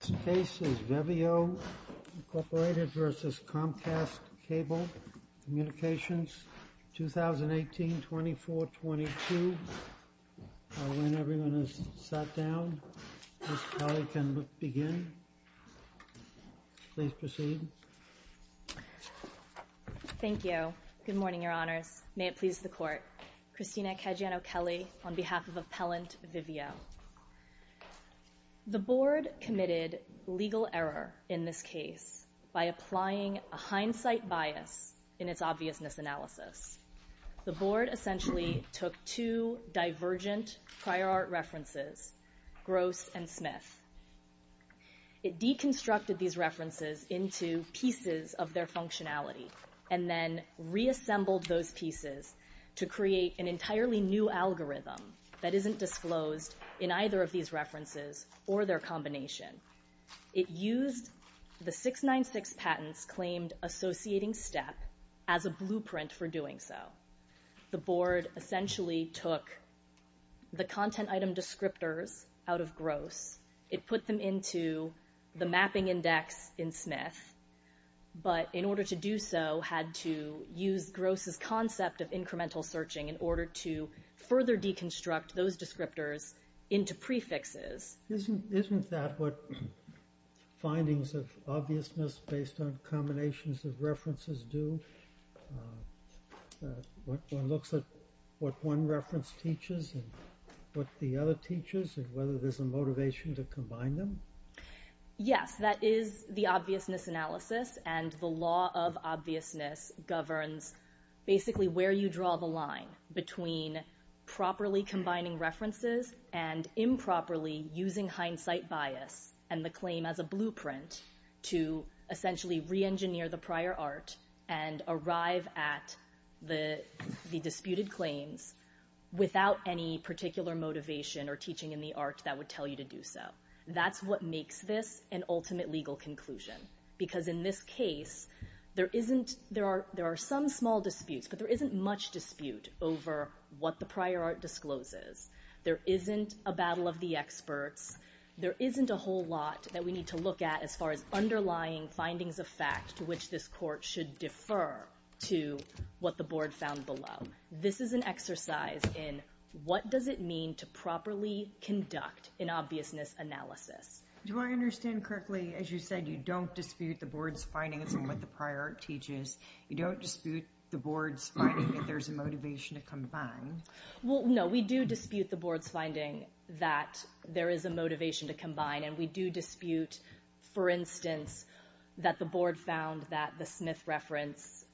This case is Veveo, Inc. v. Comcast Cable Communications, 2018-24-22. I'll let everyone who's sat down. Ms. Kelly can begin. Please proceed. Thank you. Good morning, Your Honors. May it please the Court. Christina Caggiano-Kelly on behalf of Appellant Veveo. The Board committed legal error in this case by applying a hindsight bias in its obviousness analysis. The Board essentially took two divergent prior art references, Gross and Smith. It deconstructed these references into pieces of their functionality and then reassembled those pieces to create an entirely new algorithm that isn't disclosed in either of these references or their combination. It used the 696 patents claimed associating step as a blueprint for doing so. The Board essentially took the content item descriptors out of Gross. It put them into the mapping index in Smith, but in order to do so had to use Gross' concept of incremental searching in order to further deconstruct those descriptors into prefixes. Isn't that what findings of obviousness based on combinations of references do? One looks at what one reference teaches and what the other teaches and whether there's a motivation to combine them? Yes, that is the obviousness analysis and the law of obviousness governs basically where you draw the line between properly combining references and improperly using hindsight bias and the claim as a blueprint to essentially reengineer the prior art and arrive at the disputed claims without any particular motivation or teaching in the art that would tell you to do so. That's what makes this an ultimate legal conclusion because in this case there are some small disputes, but there isn't much dispute over what the prior art discloses. There isn't a battle of the experts. There isn't a whole lot that we need to look at as far as underlying findings of fact to which this court should defer to what the board found below. This is an exercise in what does it mean to properly conduct an obviousness analysis. Do I understand correctly, as you said, you don't dispute the board's findings on what the prior art teaches? You don't dispute the board's finding that there's a motivation to combine? No, we do dispute the board's finding that there is a motivation to combine, and we do dispute, for instance, that the board found that the Smith reference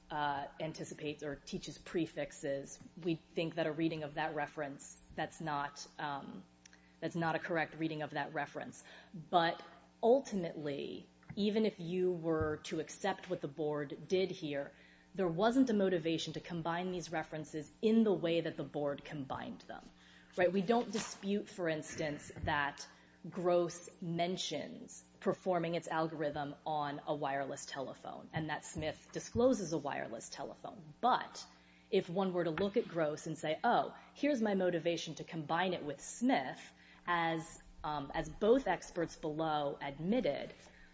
anticipates or teaches prefixes. We think that a reading of that reference, that's not a correct reading of that reference. But ultimately, even if you were to accept what the board did here, there wasn't a motivation to combine these references in the way that the board combined them. We don't dispute, for instance, that Gross mentions performing its algorithm on a wireless telephone and that Smith discloses a wireless telephone. But if one were to look at Gross and say, oh, here's my motivation to combine it with Smith, as both experts below admitted,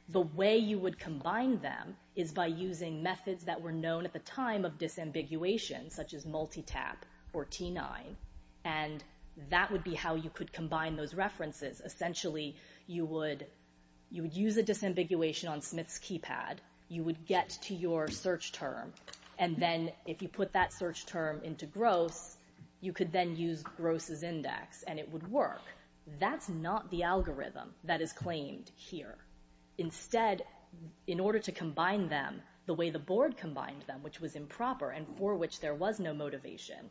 the way you would combine them is by using methods that were known at the time of disambiguation, such as multitap or T9, and that would be how you could combine those references. Essentially, you would use a disambiguation on Smith's keypad. You would get to your search term, and then if you put that search term into Gross, you could then use Gross's index, and it would work. That's not the algorithm that is claimed here. Instead, in order to combine them the way the board combined them, which was improper and for which there was no motivation,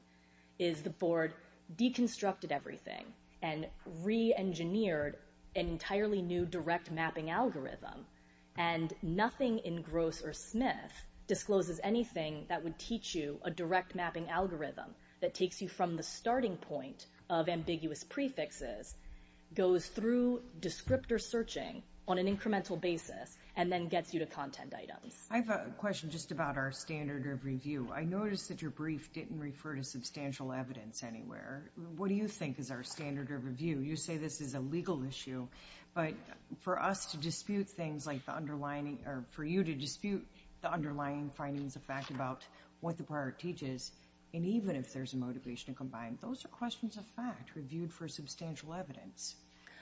is the board deconstructed everything and reengineered an entirely new direct mapping algorithm, and nothing in Gross or Smith discloses anything that would teach you a direct mapping algorithm that takes you from the starting point of ambiguous prefixes, goes through descriptor searching on an incremental basis, and then gets you to content items. I have a question just about our standard of review. I noticed that your brief didn't refer to substantial evidence anywhere. What do you think is our standard of review? You say this is a legal issue, but for us to dispute things like the underlying or for you to dispute the underlying findings of fact about what the prior teaches and even if there's a motivation to combine, those are questions of fact reviewed for substantial evidence.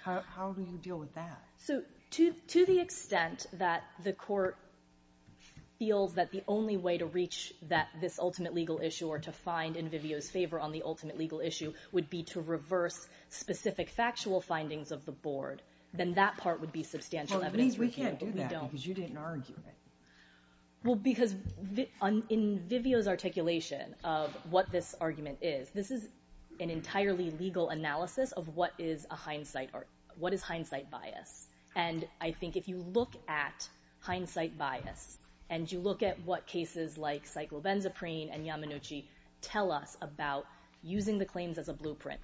How do you deal with that? To the extent that the court feels that the only way to reach this ultimate legal issue or to find in Vivio's favor on the ultimate legal issue would be to reverse specific factual findings of the board, then that part would be substantial evidence review. We can't do that because you didn't argue it. Well, because in Vivio's articulation of what this argument is, this is an entirely legal analysis of what is hindsight bias. And I think if you look at hindsight bias and you look at what cases like Cyclobenzaprine and Yamanuchi tell us about using the claims as a blueprint,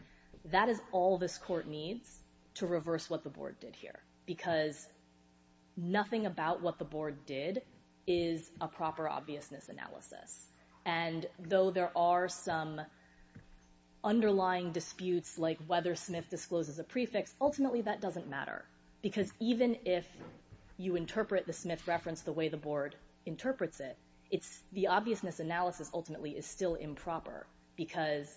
that is all this court needs to reverse what the board did here because nothing about what the board did is a proper obviousness analysis. And though there are some underlying disputes like whether Smith discloses a prefix, ultimately that doesn't matter because even if you interpret the Smith reference the way the board interprets it, the obviousness analysis ultimately is still improper because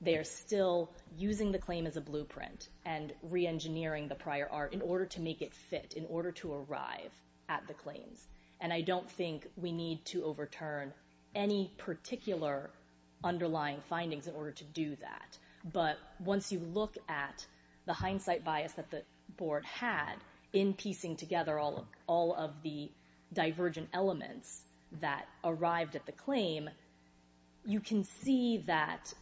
they're still using the claim as a blueprint and reengineering the prior art in order to make it fit, in order to arrive at the claims. And I don't think we need to overturn any particular underlying findings in order to do that. But once you look at the hindsight bias that the board had in piecing together all of the divergent elements that arrived at the claim, you can see that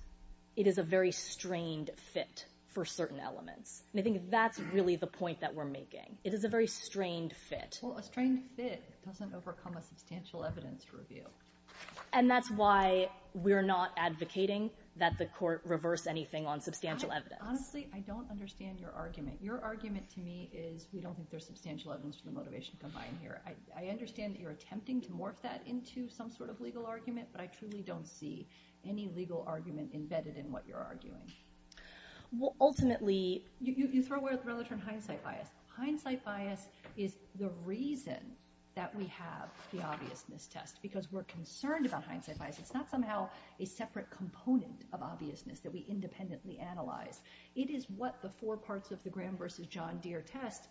it is a very strained fit for certain elements. And I think that's really the point that we're making. It is a very strained fit. Well, a strained fit doesn't overcome a substantial evidence review. And that's why we're not advocating that the court reverse anything on substantial evidence. Honestly, I don't understand your argument. Your argument to me is we don't think there's substantial evidence for the motivation combined here. I understand that you're attempting to morph that into some sort of legal argument, but I truly don't see any legal argument embedded in what you're arguing. Well, ultimately, you throw away the term hindsight bias. Hindsight bias is the reason that we have the obviousness test because we're concerned about hindsight bias. It's not somehow a separate component of obviousness that we independently analyze. It is what the four parts of the Graham v. John Deere test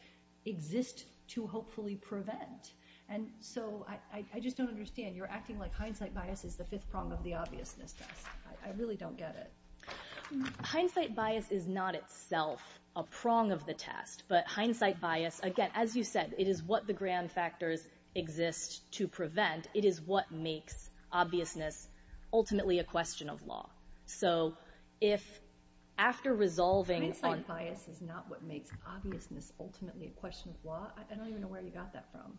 exist to hopefully prevent. And so I just don't understand. You're acting like hindsight bias is the fifth prong of the obviousness test. I really don't get it. Hindsight bias is not itself a prong of the test, but hindsight bias, again, as you said, it is what the Graham factors exist to prevent. It is what makes obviousness ultimately a question of law. So if after resolving... Hindsight bias is not what makes obviousness ultimately a question of law? I don't even know where you got that from.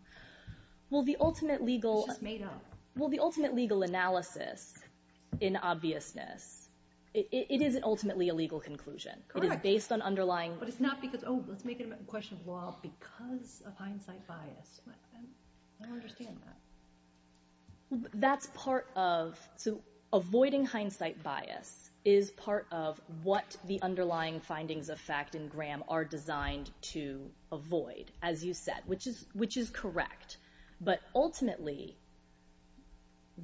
Well, the ultimate legal... It's just made up. Well, the ultimate legal analysis in obviousness, it is ultimately a legal conclusion. Correct. It is based on underlying... But it's not because, oh, let's make it a question of law because of hindsight bias. I don't understand that. That's part of... So avoiding hindsight bias is part of what the underlying findings of fact in Graham are designed to avoid, as you said, which is correct. But ultimately,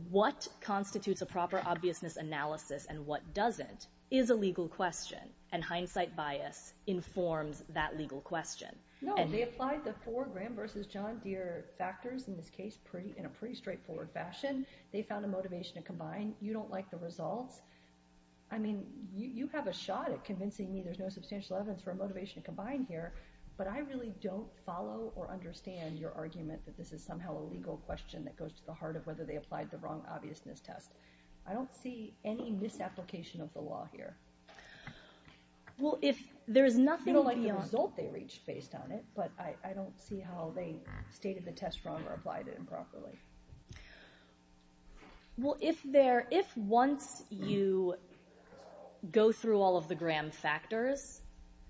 what constitutes a proper obviousness analysis and what doesn't is a legal question, and hindsight bias informs that legal question. No. And they applied the four Graham versus John Deere factors in this case in a pretty straightforward fashion. They found a motivation to combine. You don't like the results. I mean, you have a shot at convincing me there's no substantial evidence for a motivation to combine here, but I really don't follow or understand your argument that this is somehow a legal question that goes to the heart of whether they applied the wrong obviousness test. I don't see any misapplication of the law here. Well, if there is nothing beyond... I haven't done it, but I don't see how they stated the test wrong or applied it improperly. Well, if once you go through all of the Graham factors,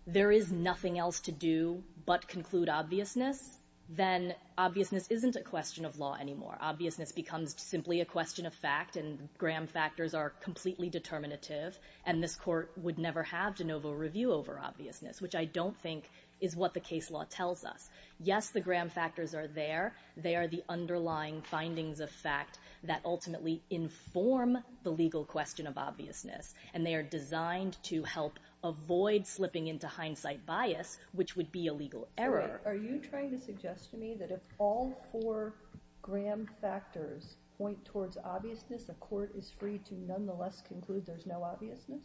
there is nothing else to do but conclude obviousness, then obviousness isn't a question of law anymore. Obviousness becomes simply a question of fact, and Graham factors are completely determinative, and this court would never have de novo review over obviousness, which I don't think is what the case law tells us. Yes, the Graham factors are there. They are the underlying findings of fact that ultimately inform the legal question of obviousness, and they are designed to help avoid slipping into hindsight bias, which would be a legal error. Are you trying to suggest to me that if all four Graham factors point towards obviousness, a court is free to nonetheless conclude there's no obviousness?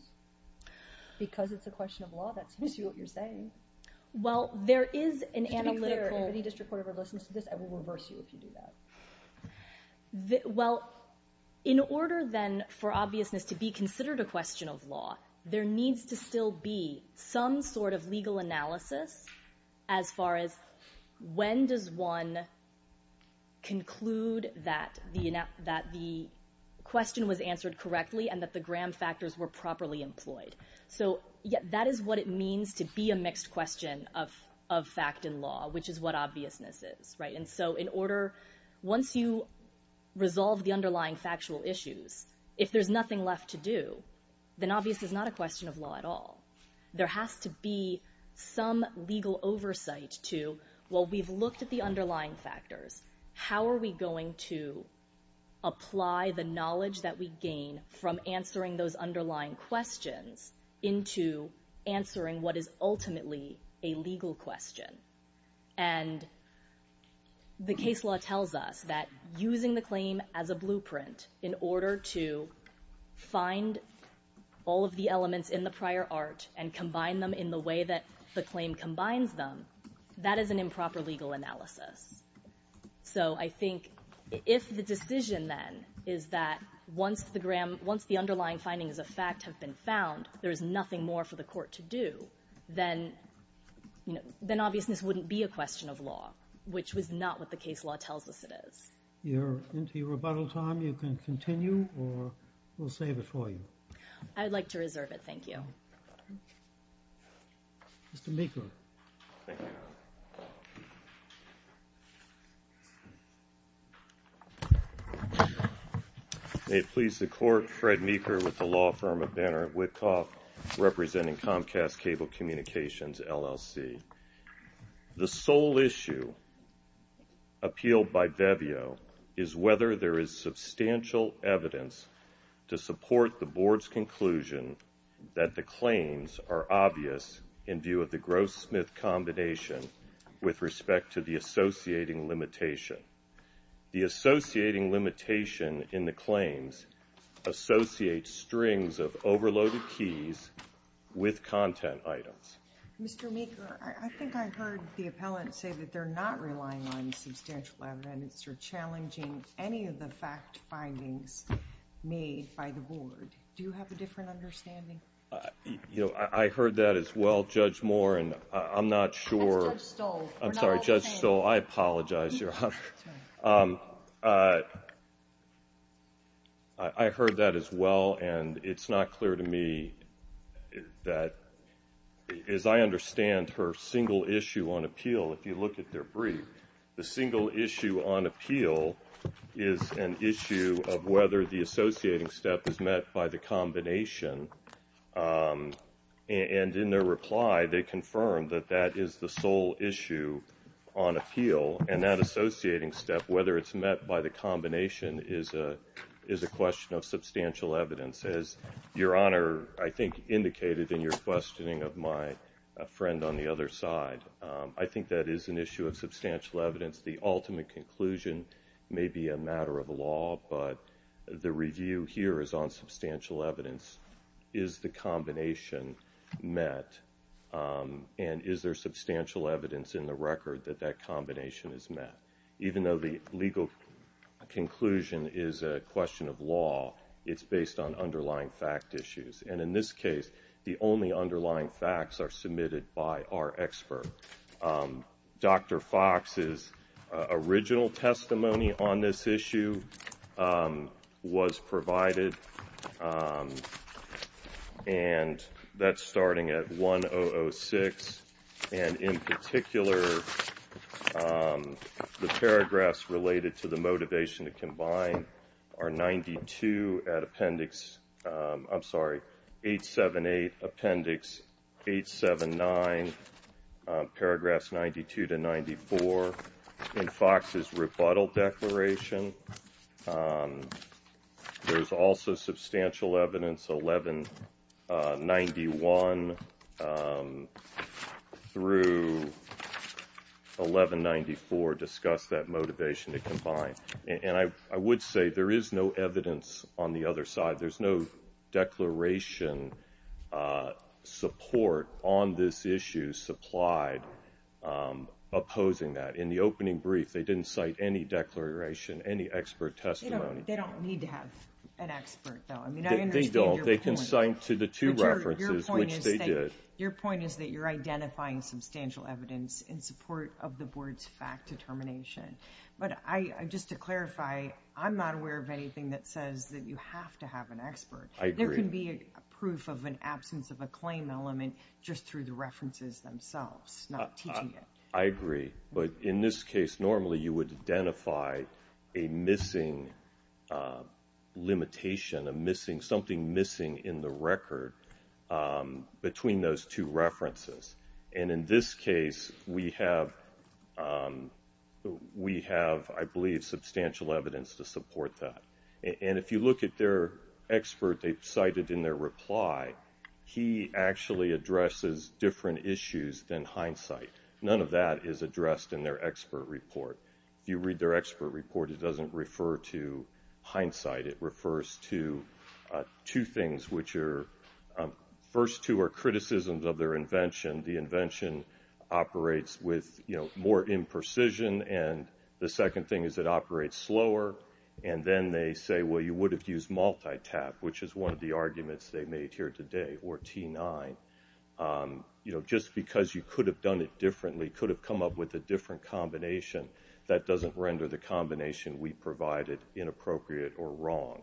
Because it's a question of law, that seems to be what you're saying. Well, there is an analytical... Just to be clear, if any district court ever listens to this, I will reverse you if you do that. Well, in order then for obviousness to be considered a question of law, there needs to still be some sort of legal analysis as far as when does one conclude that the question was answered correctly and that the Graham factors were properly employed. So that is what it means to be a mixed question of fact and law, which is what obviousness is. And so in order... Once you resolve the underlying factual issues, if there's nothing left to do, then obviousness is not a question of law at all. There has to be some legal oversight to, well, we've looked at the underlying factors. How are we going to apply the knowledge that we gain from answering those underlying questions into answering what is ultimately a legal question? And the case law tells us that using the claim as a blueprint in order to find all of the elements in the prior art and combine them in the way that the claim combines them, that is an improper legal analysis. So I think if the decision then is that once the underlying findings of fact have been found, there is nothing more for the court to do, then obviousness wouldn't be a question of law, which was not what the case law tells us it is. You're into your rebuttal time. You can continue or we'll save it for you. I would like to reserve it. Thank you. Mr. Meeker. Thank you, Your Honor. May it please the court, Fred Meeker with the law firm of Banner Whitcock representing Comcast Cable Communications, LLC. The sole issue appealed by Veveo is whether there is substantial evidence to support the board's conclusion that the claims are obvious in view of the Gross-Smith combination with respect to the associating limitation. The associating limitation in the claims associates strings of overloaded keys with content items. Mr. Meeker, I think I heard the appellant say that they're not relying on substantial evidence or challenging any of the fact findings made by the board. Do you have a different understanding? You know, I heard that as well, Judge Moore, and I'm not sure... That's Judge Stoll. I'm sorry, Judge Stoll. I apologize, Your Honor. I heard that as well, and it's not clear to me that, as I understand her single issue on appeal, if you look at their brief, the single issue on appeal is an issue of whether the associating step is met by the combination. And in their reply, they confirmed that that is the sole issue on appeal, and that associating step, whether it's met by the combination, is a question of substantial evidence. As Your Honor, I think, indicated in your questioning of my friend on the other side, I think that is an issue of substantial evidence. The ultimate conclusion may be a matter of law, but the review here is on substantial evidence. Is the combination met, and is there substantial evidence in the record that that combination is met? Even though the legal conclusion is a question of law, it's based on underlying fact issues. And in this case, the only underlying facts are submitted by our expert. Dr. Fox's original testimony on this issue was provided, and that's starting at 1006. And in particular, the paragraphs related to the motivation to combine are 92 at appendix, I'm sorry, 878, appendix 879, paragraphs 92 to 94 in Fox's rebuttal declaration. There's also substantial evidence 1191 through 1194 discuss that motivation to combine. And I would say there is no evidence on the other side. There's no declaration support on this issue, and there's no evidence supplied opposing that. In the opening brief, they didn't cite any declaration, any expert testimony. They don't need to have an expert, though. I mean, I understand your point. They don't. They can cite to the two references, which they did. Your point is that you're identifying substantial evidence in support of the board's fact determination. But just to clarify, I'm not aware of anything that says that you have to have an expert. I agree. There can be a proof of an absence of a claim element just through the references themselves, not teaching it. I agree. But in this case, normally you would identify a missing limitation, something missing in the record between those two references. And in this case, we have, I believe, substantial evidence to support that. And if you look at their expert they cited in their reply, he actually addresses different issues than hindsight. None of that is addressed in their expert report. If you read their expert report, it doesn't refer to hindsight. It refers to two things, which are, first two are criticisms of their invention. The invention operates with more imprecision, and the second thing is it operates slower. And then they say, well, you would have used multi-tap, which is one of the arguments they made here today, or T9. Just because you could have done it differently, could have come up with a different combination, that doesn't render the combination we provided inappropriate or wrong.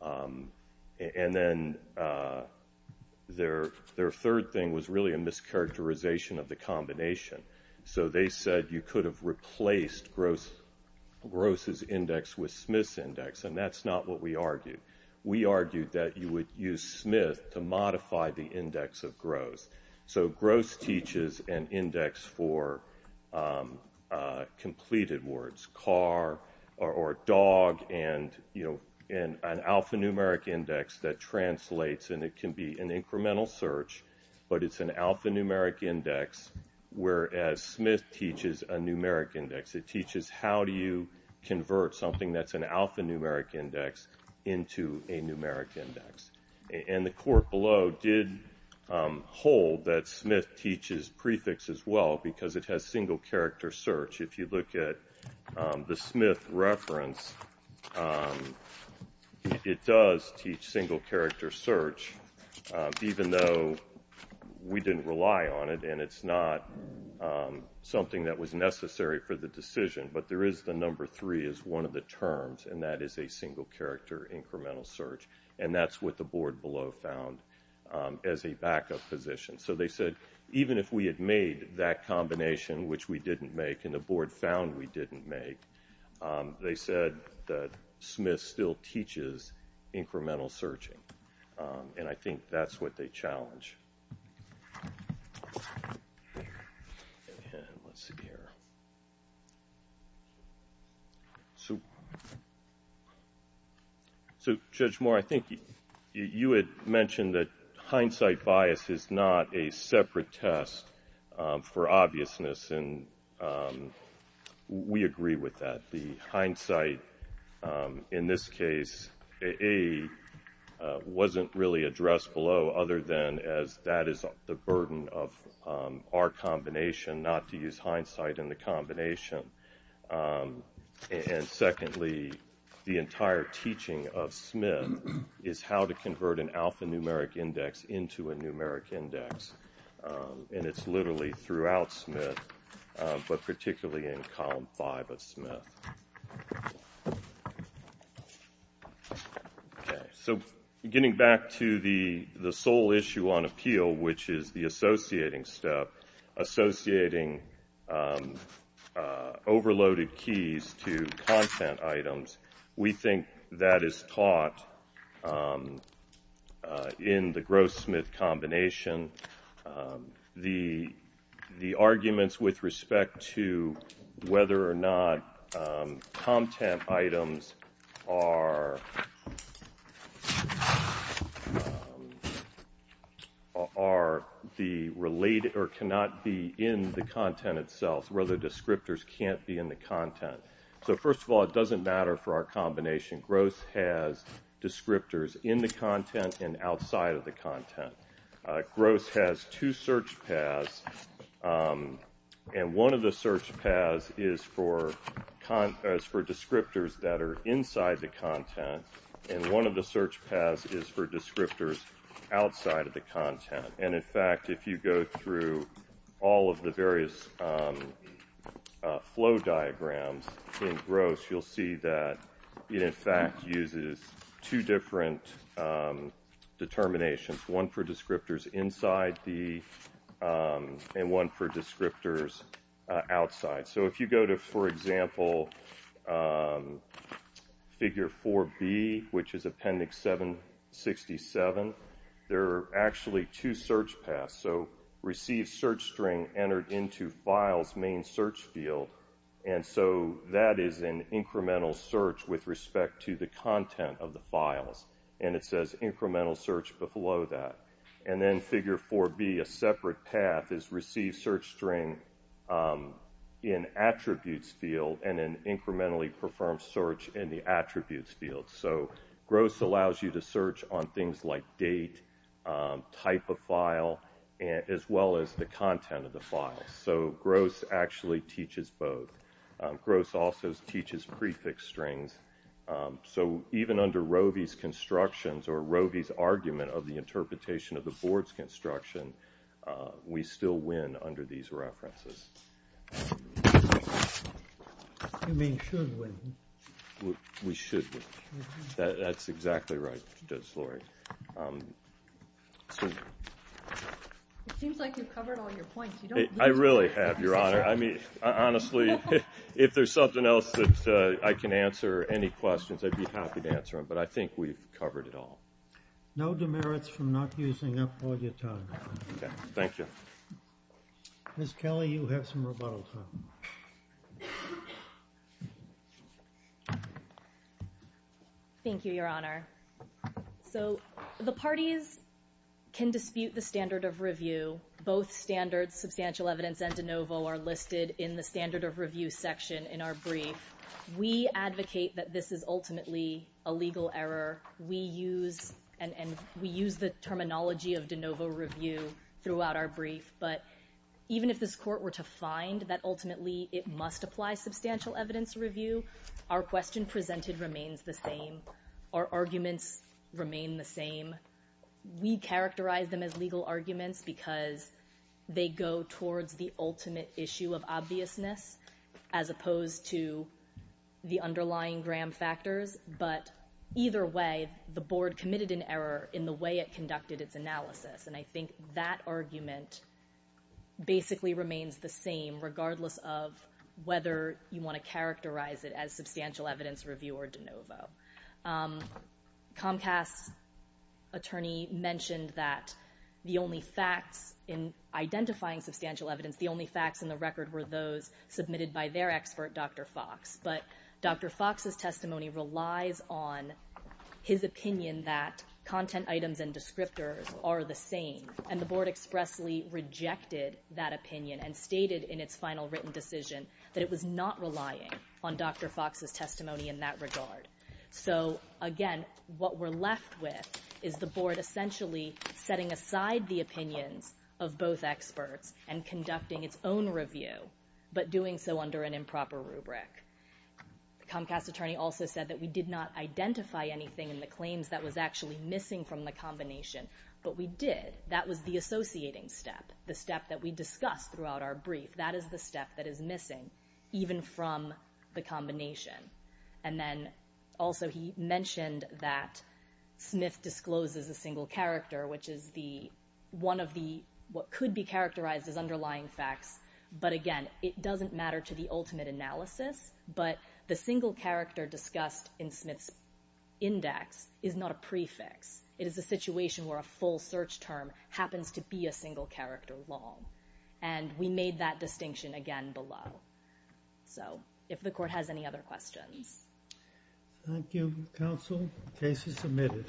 And then their third thing was really a mischaracterization of the combination. So they said you could have replaced Gross's index with Smith's index, and that's not what we argued. We argued that you would use Smith to modify the index of Gross. So Gross teaches an index for completed words, car or dog, and an alphanumeric index that translates, and it can be an incremental search, but it's an alphanumeric index, whereas Smith teaches a numeric index. It teaches how do you convert something that's an alphanumeric index into a numeric index. And the court below did hold that Smith teaches prefix as well, because it has single-character search. If you look at the Smith reference, it does teach single-character search, even though we didn't rely on it, and it's not something that was necessary for the decision. But there is the number three as one of the terms, and that is a single-character incremental search, and that's what the board below found as a backup position. So they said even if we had made that combination, which we didn't make, and the board found we didn't make, they said that Smith still teaches incremental searching, and I think that's what they challenge. Let's see here. So, Judge Moore, I think you had mentioned that hindsight bias is not a separate test for obviousness, and we agree with that. The hindsight in this case, A, wasn't really addressed below other than as that is the burden of our combination, not to use hindsight in the combination. And secondly, the entire teaching of Smith is how to convert an alphanumeric index into a numeric index, and it's literally throughout Smith, but particularly in column five of Smith. Okay. So getting back to the sole issue on appeal, which is the associating step, associating overloaded keys to content items, we think that is taught in the Gross-Smith combination. The arguments with respect to whether or not content items are the related or cannot be in the content itself, whether descriptors can't be in the content. So first of all, it doesn't matter for our combination. Gross has descriptors in the content and outside of the content. Gross has two search paths, and one of the search paths is for descriptors that are inside the content, and one of the search paths is for descriptors outside of the content. And in fact, if you go through all of the various flow diagrams in Gross, you'll see that it in fact uses two different determinations, one for descriptors inside and one for descriptors outside. So if you go to, for example, figure 4B, which is appendix 767, there are actually two search paths. So receive search string entered into files main search field, and so that is an incremental search with respect to the content of the files. And it says incremental search below that. And then figure 4B, a separate path, is receive search string in attributes field and then incrementally perform search in the attributes field. So Gross allows you to search on things like date, type of file, as well as the content of the file. So Gross actually teaches both. Gross also teaches prefix strings. So even under Roe v. Constructions or Roe v. Argument of the Interpretation of the Board's Construction, we still win under these references. You mean should win. We should win. That's exactly right, Judge Slory. It seems like you've covered all your points. I really have, Your Honor. Honestly, if there's something else that I can answer, any questions, I'd be happy to answer them. But I think we've covered it all. No demerits from not using up all your time. Okay. Thank you. Ms. Kelly, you have some rebuttal time. Thank you, Your Honor. So the parties can dispute the standard of review. Both standards, substantial evidence and de novo, are listed in the standard of review section in our brief. We advocate that this is ultimately a legal error. We use the terminology of de novo review throughout our brief. But even if this court were to find that ultimately it must apply substantial evidence review, our question presented remains the same. Our arguments remain the same. We characterize them as legal arguments because they go towards the ultimate issue of obviousness as opposed to the underlying gram factors. But either way, the Board committed an error in the way it conducted its analysis. And I think that argument basically remains the same regardless of whether you want to characterize it as substantial evidence review or de novo. Comcast's attorney mentioned that the only facts in identifying substantial evidence, the only facts in the record were those submitted by their expert, Dr. Fox. But Dr. Fox's testimony relies on his opinion that content items and descriptors are the same. And the Board expressly rejected that opinion and stated in its final written decision that it was not relying on Dr. Fox's testimony in that regard. So again, what we're left with is the Board essentially setting aside the opinions of both experts and conducting its own review, but doing so under an improper rubric. Comcast's attorney also said that we did not identify anything in the claims that was actually missing from the combination, but we did. That was the associating step, the step that we discussed throughout our brief. That is the step that is missing, even from the combination. And then also he mentioned that Smith discloses a single character, which is one of what could be characterized as underlying facts. But again, it doesn't matter to the ultimate analysis, but the single character discussed in Smith's index is not a prefix. It is a situation where a full search term happens to be a single character long. And we made that distinction again below. So if the Court has any other questions. Thank you, Counsel. The case is submitted.